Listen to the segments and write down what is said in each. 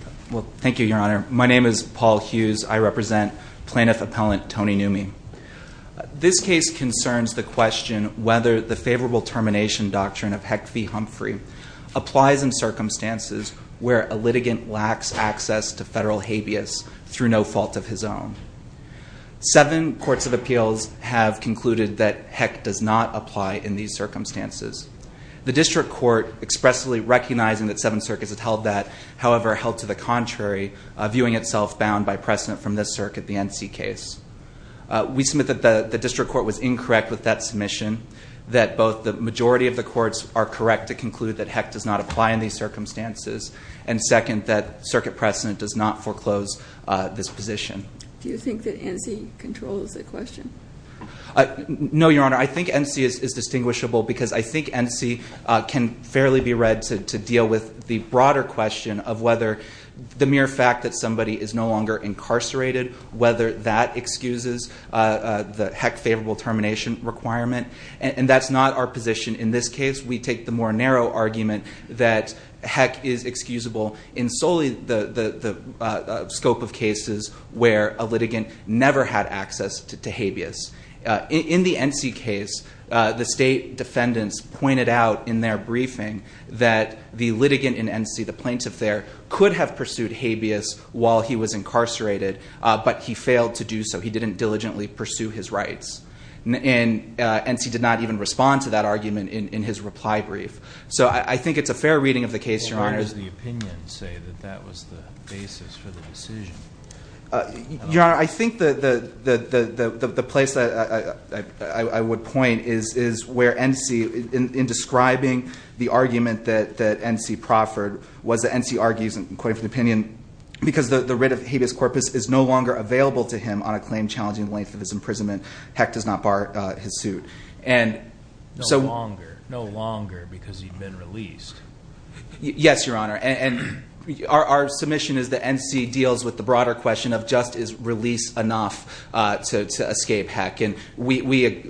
Thank you, Your Honor. My name is Paul Hughes. I represent Plaintiff Appellant Tony Newmy. This case concerns the question whether the favorable termination doctrine of Heck v. Humphrey applies in circumstances where a litigant lacks access to federal habeas through no fault of his own. Seven courts of appeals have concluded that Heck does not apply in these circumstances. The district court expressly recognizing that seven circuits have held that, however, held to the contrary, viewing itself bound by precedent from this circuit, the NC case. We submit that the district court was incorrect with that submission, that both the majority of the courts are correct to conclude that Heck does not apply in these circumstances, and second, that circuit precedent does not foreclose this position. Do you think that NC controls the question? No, Your Honor. I think NC is distinguishable because I think NC can fairly be read to deal with the broader question of whether the mere fact that somebody is no longer incarcerated, whether that excuses the Heck favorable termination requirement, and that's not our position in this case. We take the more narrow argument that Heck is excusable in solely the scope of cases where a litigant never had access to habeas. In the NC case, the state defendants pointed out in their briefing that the litigant in NC, the plaintiff there, could have pursued habeas while he was incarcerated, but he failed to do so. He didn't diligently pursue his rights, and NC did not even respond to that argument in his reply brief. So I think it's a fair reading of the case, Your Honor. Where does the opinion say that that was the basis for the decision? Your Honor, I think the place that I would point is where NC, in describing the argument that NC proffered was that NC argues, and I'm quoting from the opinion, because the writ of habeas corpus is no longer available to him on a claim challenging the length of his imprisonment, Heck does not bar his suit. No longer. No longer because he'd been released. Yes, Your Honor. And our submission is that NC deals with the broader question of just is release enough to escape Heck? And we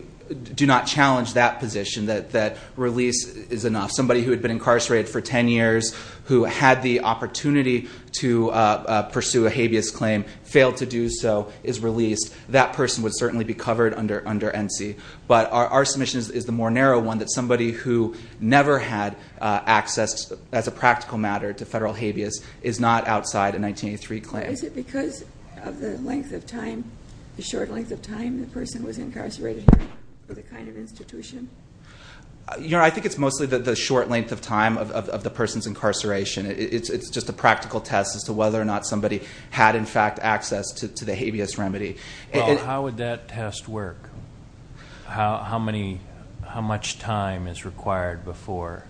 do not challenge that position, that release is enough. Somebody who had been incarcerated for ten years, who had the opportunity to pursue a habeas claim, failed to do so, is released. That person would certainly be covered under NC. But our submission is the more narrow one, that somebody who never had access as a practical matter to federal habeas is not outside a 1983 claim. Is it because of the length of time, the short length of time, the person was incarcerated for the kind of institution? Your Honor, I think it's mostly the short length of time of the person's incarceration. It's just a practical test as to whether or not somebody had, in fact, access to the habeas remedy. How would that test work? How much time is required before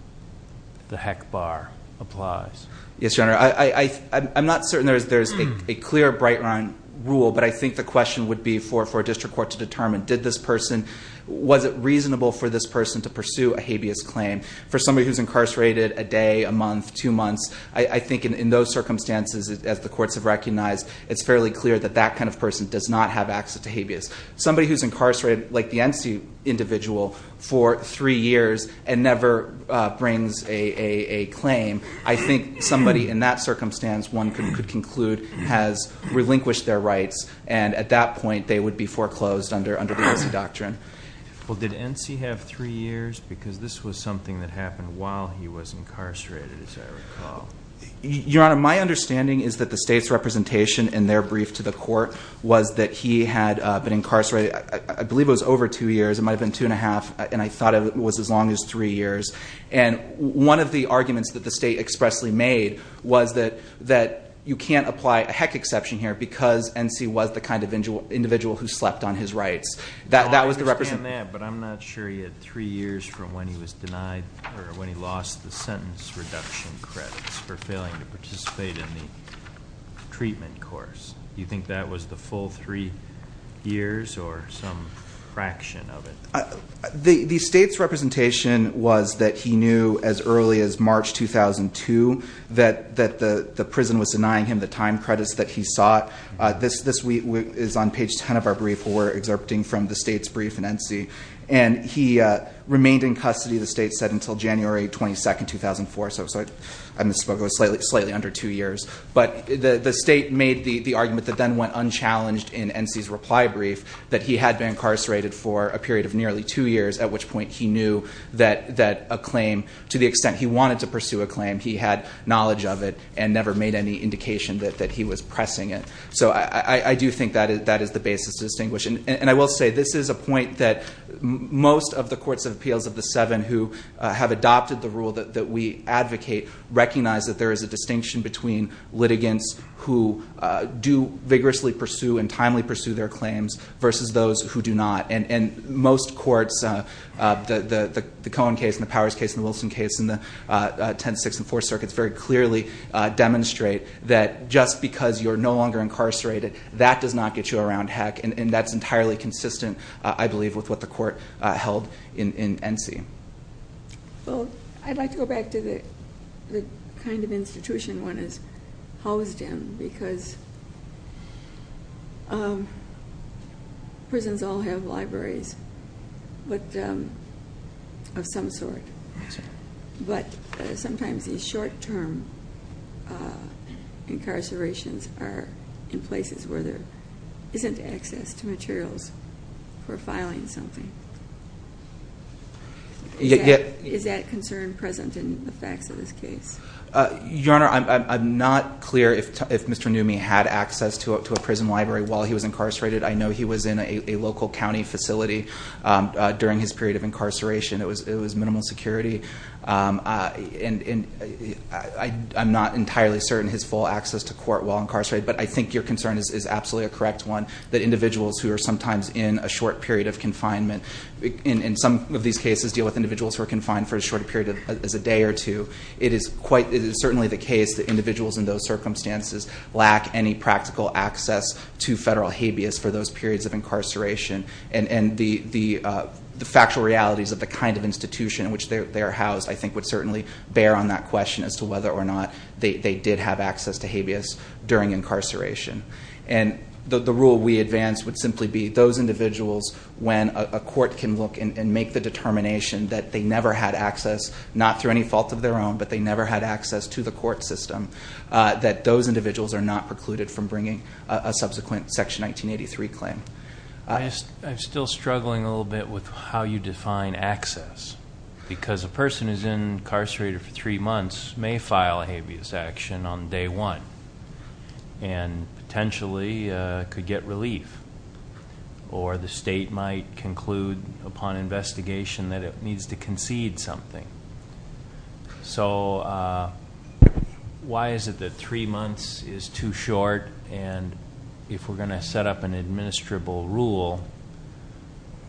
the Heck bar applies? Yes, Your Honor. I'm not certain there's a clear, bright-line rule, but I think the question would be for a district court to determine did this person, was it reasonable for this person to pursue a habeas claim? For somebody who's incarcerated a day, a month, two months, I think in those circumstances, as the courts have recognized, it's fairly clear that that kind of person does not have access to habeas. Somebody who's incarcerated, like the NC individual, for three years and never brings a claim, I think somebody in that circumstance, one could conclude, has relinquished their rights, and at that point they would be foreclosed under the NC doctrine. Well, did NC have three years? Because this was something that happened while he was incarcerated, as I recall. Your Honor, my understanding is that the State's representation in their brief to the court was that he had been incarcerated, I believe it was over two years, it might have been two and a half, and I thought it was as long as three years. And one of the arguments that the State expressly made was that you can't apply a Heck exception here because NC was the kind of individual who slept on his rights. I understand that, but I'm not sure he had three years from when he was denied or when he lost the sentence reduction credits for failing to participate in the treatment course. Do you think that was the full three years or some fraction of it? The State's representation was that he knew as early as March 2002 that the prison was denying him the time credits that he sought. This is on page 10 of our brief where we're exerpting from the State's brief in NC. And he remained in custody, the State said, until January 22, 2004. So I misspoke, it was slightly under two years. But the State made the argument that then went unchallenged in NC's reply brief that he had been incarcerated for a period of nearly two years, at which point he knew that a claim, to the extent he wanted to pursue a claim, he had knowledge of it and never made any indication that he was pressing it. So I do think that is the basis to distinguish. And I will say this is a point that most of the courts of appeals of the seven who have adopted the rule that we advocate recognize that there is a distinction between litigants who do vigorously pursue and timely pursue their claims versus those who do not. And most courts, the Cohen case and the Powers case and the Wilson case and the 10th, 6th, and 4th circuits very clearly demonstrate that just because you're no longer incarcerated, that does not get you around heck. And that's entirely consistent, I believe, with what the court held in NC. Well, I'd like to go back to the kind of institution one is housed in, because prisons all have libraries of some sort. But sometimes these short-term incarcerations are in places where there isn't access to materials for filing something. Is that concern present in the facts of this case? Your Honor, I'm not clear if Mr. Newmy had access to a prison library while he was incarcerated. I know he was in a local county facility during his period of incarceration. It was minimal security. And I'm not entirely certain his full access to court while incarcerated. But I think your concern is absolutely a correct one, that individuals who are sometimes in a short period of confinement, in some of these cases deal with individuals who are confined for as short a period as a day or two. It is certainly the case that individuals in those circumstances lack any practical access to federal habeas for those periods of incarceration. And the factual realities of the kind of institution in which they are housed, I think, would certainly bear on that question as to whether or not they did have access to habeas during incarceration. And the rule we advance would simply be those individuals, when a court can look and make the determination that they never had access, not through any fault of their own, but they never had access to the court system, that those individuals are not precluded from bringing a subsequent Section 1983 claim. I'm still struggling a little bit with how you define access. Because a person who's incarcerated for three months may file a habeas action on day one, and potentially could get relief. Or the state might conclude upon investigation that it needs to concede something. So why is it that three months is too short? And if we're going to set up an administrable rule,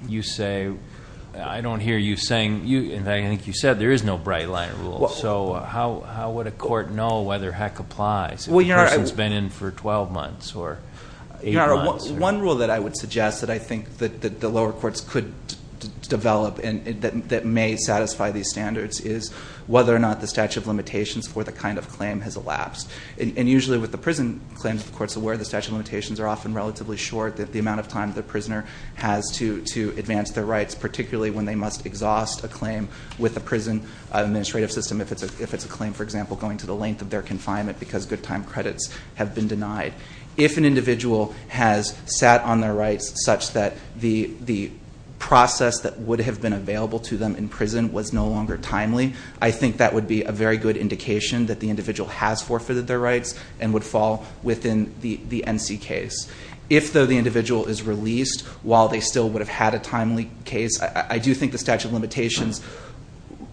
you say, I don't hear you saying, and I think you said there is no bright line rule. So how would a court know whether heck applies if a person's been in for 12 months or eight months? One rule that I would suggest that I think that the lower courts could develop and that may satisfy these standards is whether or not the statute of limitations for the kind of claim has elapsed. And usually with the prison claims, of course, where the statute of limitations are often relatively short, the amount of time the prisoner has to advance their rights, particularly when they must exhaust a claim with the prison administrative system, if it's a claim, for example, going to the length of their confinement because good time credits have been denied. If an individual has sat on their rights such that the process that would have been available to them in prison was no longer timely, I think that would be a very good indication that the individual has forfeited their rights and would fall within the NC case. If, though, the individual is released while they still would have had a timely case, I do think the statute of limitations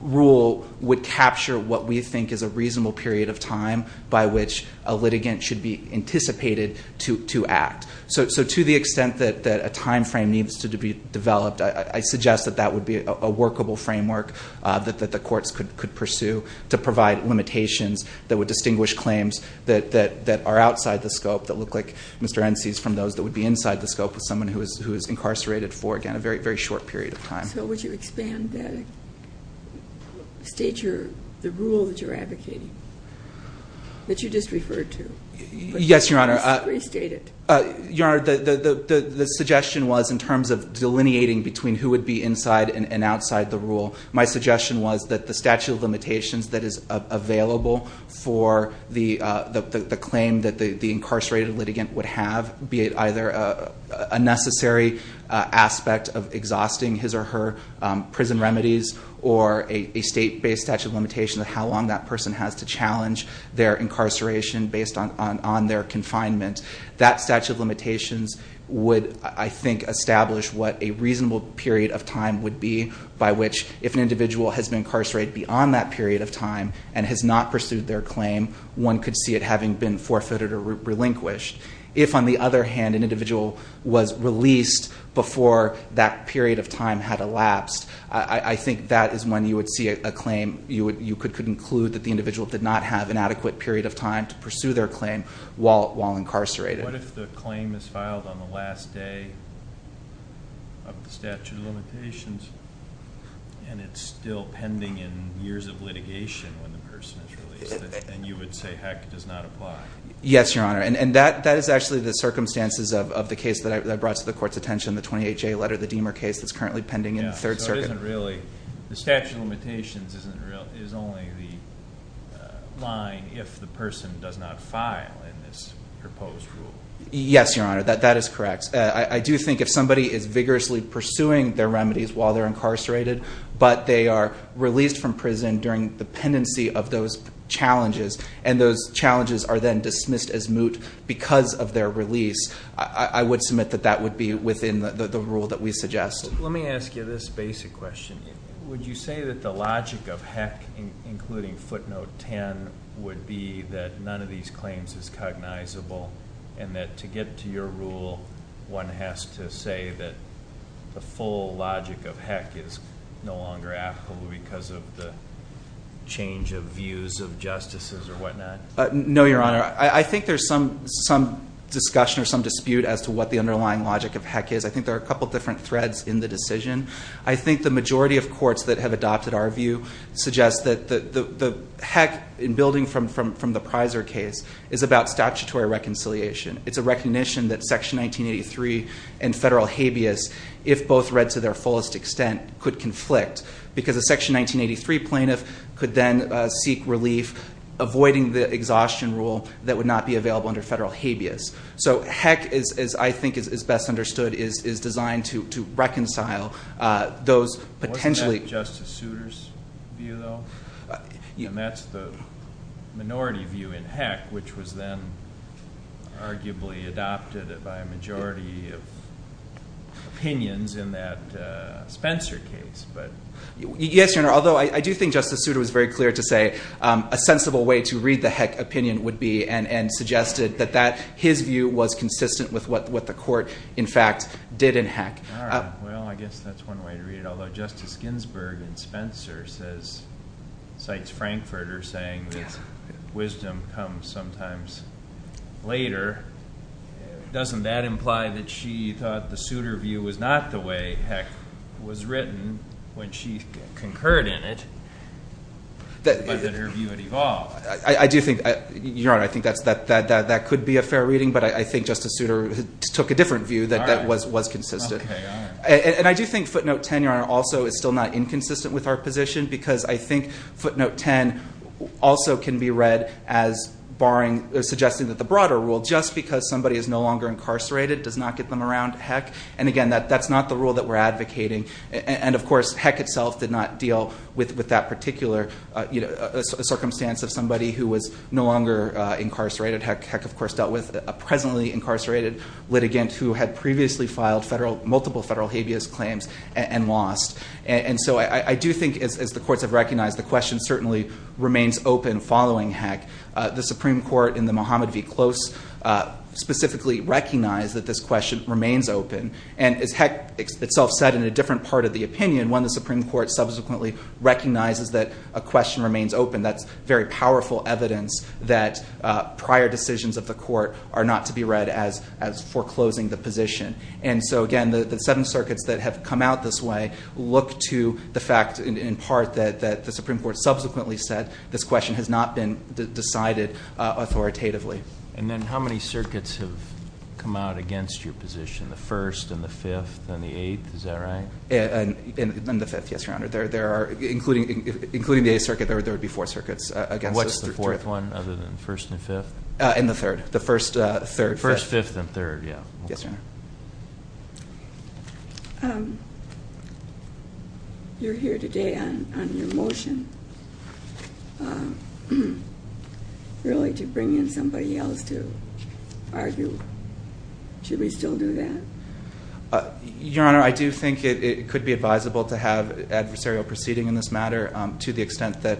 rule would capture what we think is a reasonable period of time by which a litigant should be anticipated to act. So to the extent that a timeframe needs to be developed, I suggest that that would be a workable framework that the courts could pursue to provide limitations that would distinguish claims that are outside the scope that look like Mr. NC's from those that would be inside the scope of someone who is incarcerated for, again, a very, very short period of time. So would you expand that and state the rule that you're advocating, that you just referred to? Yes, Your Honor. Restate it. Your Honor, the suggestion was in terms of delineating between who would be inside and outside the rule. My suggestion was that the statute of limitations that is available for the claim that the incarcerated litigant would have, be it either a necessary aspect of exhausting his or her prison remedies or a state-based statute of limitations of how long that person has to challenge their incarceration based on their confinement. That statute of limitations would, I think, establish what a reasonable period of time would be by which if an individual has been incarcerated beyond that period of time and has not pursued their claim, one could see it having been forfeited or relinquished. If, on the other hand, an individual was released before that period of time had elapsed, I think that is when you would see a claim. You could conclude that the individual did not have an adequate period of time to pursue their claim while incarcerated. What if the claim is filed on the last day of the statute of limitations and it's still pending in years of litigation when the person is released? Then you would say, heck, it does not apply. Yes, Your Honor, and that is actually the circumstances of the case that I brought to the Court's attention, the 28J letter, the Deamer case that's currently pending in the Third Circuit. So it isn't really the statute of limitations is only the line if the person does not file in this proposed rule. Yes, Your Honor, that is correct. I do think if somebody is vigorously pursuing their remedies while they're incarcerated but they are released from prison during the pendency of those challenges and those challenges are then dismissed as moot because of their release, I would submit that that would be within the rule that we suggest. Let me ask you this basic question. Would you say that the logic of heck, including footnote 10, would be that none of these claims is cognizable and that to get to your rule, one has to say that the full logic of heck is no longer applicable because of the change of views of justices or whatnot? No, Your Honor. I think there's some discussion or some dispute as to what the underlying logic of heck is. I think there are a couple of different threads in the decision. I think the majority of courts that have adopted our view suggest that the heck, in building from the Pizer case, is about statutory reconciliation. It's a recognition that Section 1983 and federal habeas, if both read to their fullest extent, could conflict because a Section 1983 plaintiff could then seek relief, avoiding the exhaustion rule that would not be available under federal habeas. So heck, as I think is best understood, is designed to reconcile those potentially. Wasn't that Justice Souter's view, though? And that's the minority view in heck, which was then arguably adopted by a majority of opinions in that Spencer case. Yes, Your Honor. Although I do think Justice Souter was very clear to say a sensible way to read the heck opinion would be and suggested that his view was consistent with what the court, in fact, did in heck. All right. Well, I guess that's one way to read it. Although Justice Ginsburg in Spencer cites Frankfurter saying that wisdom comes sometimes later, doesn't that imply that she thought the Souter view was not the way heck was written when she concurred in it, but that her view had evolved? I do think, Your Honor, I think that could be a fair reading, but I think Justice Souter took a different view that that was consistent. And I do think footnote 10, Your Honor, also is still not inconsistent with our position because I think footnote 10 also can be read as suggesting that the broader rule, just because somebody is no longer incarcerated does not get them around heck. And, again, that's not the rule that we're advocating. And, of course, heck itself did not deal with that particular circumstance of somebody who was no longer incarcerated. Heck, of course, dealt with a presently incarcerated litigant who had previously filed multiple federal habeas claims and lost. And so I do think, as the courts have recognized, the question certainly remains open following heck. The Supreme Court in the Mohammed v. Close specifically recognized that this question remains open. And as heck itself said in a different part of the opinion, when the Supreme Court subsequently recognizes that a question remains open, that's very powerful evidence that prior decisions of the court are not to be read as foreclosing the position. And so, again, the seven circuits that have come out this way look to the fact, in part, that the Supreme Court subsequently said this question has not been decided authoritatively. And then how many circuits have come out against your position, the first and the fifth and the eighth? Is that right? And the fifth, yes, Your Honor. There are, including the eighth circuit, there would be four circuits against us. What's the fourth one other than the first and fifth? And the third. The first, third. First, fifth, and third, yeah. Yes, Your Honor. You're here today on your motion really to bring in somebody else to argue. Should we still do that? Your Honor, I do think it could be advisable to have adversarial proceeding in this matter to the extent that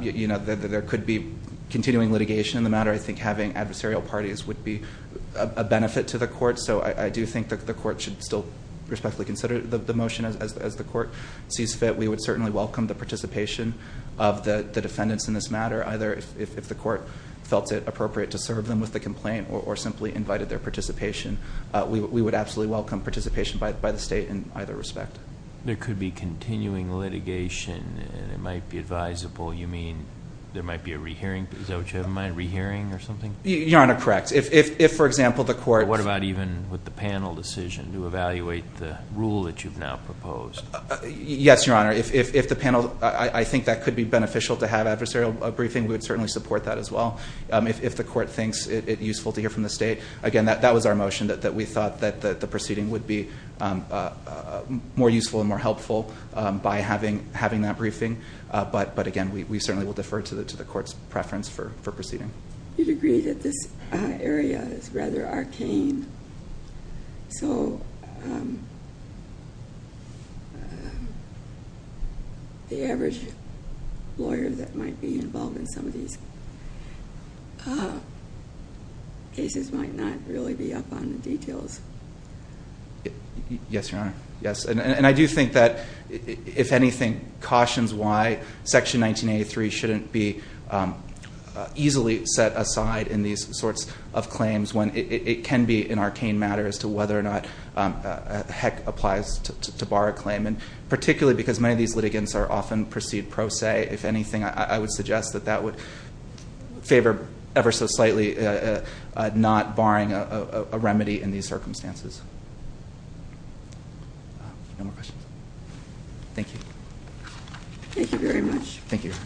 there could be continuing litigation in the matter. I think having adversarial parties would be a benefit to the court. So I do think the court should still respectfully consider the motion as the court sees fit. We would certainly welcome the participation of the defendants in this matter, either if the court felt it appropriate to serve them with the complaint or simply invited their participation. We would absolutely welcome participation by the state in either respect. There could be continuing litigation and it might be advisable. You mean there might be a rehearing? Is that what you have in mind, a rehearing or something? Your Honor, correct. If, for example, the court. What about even with the panel decision to evaluate the rule that you've now proposed? Yes, Your Honor. If the panel, I think that could be beneficial to have adversarial briefing. We would certainly support that as well. If the court thinks it useful to hear from the state, again, that was our motion that we thought that the proceeding would be more useful and more helpful by having that briefing. But, again, we certainly will defer to the court's preference for proceeding. You'd agree that this area is rather arcane, so the average lawyer that might be involved in some of these cases might not really be up on the details. Yes, Your Honor. Yes, and I do think that, if anything, cautions why Section 1983 shouldn't be easily set aside in these sorts of claims when it can be an arcane matter as to whether or not a heck applies to bar a claim, and particularly because many of these litigants are often proceed pro se. If anything, I would suggest that that would favor ever so slightly not barring a remedy in these circumstances. No more questions? Thank you. Thank you very much. Thank you, Your Honor.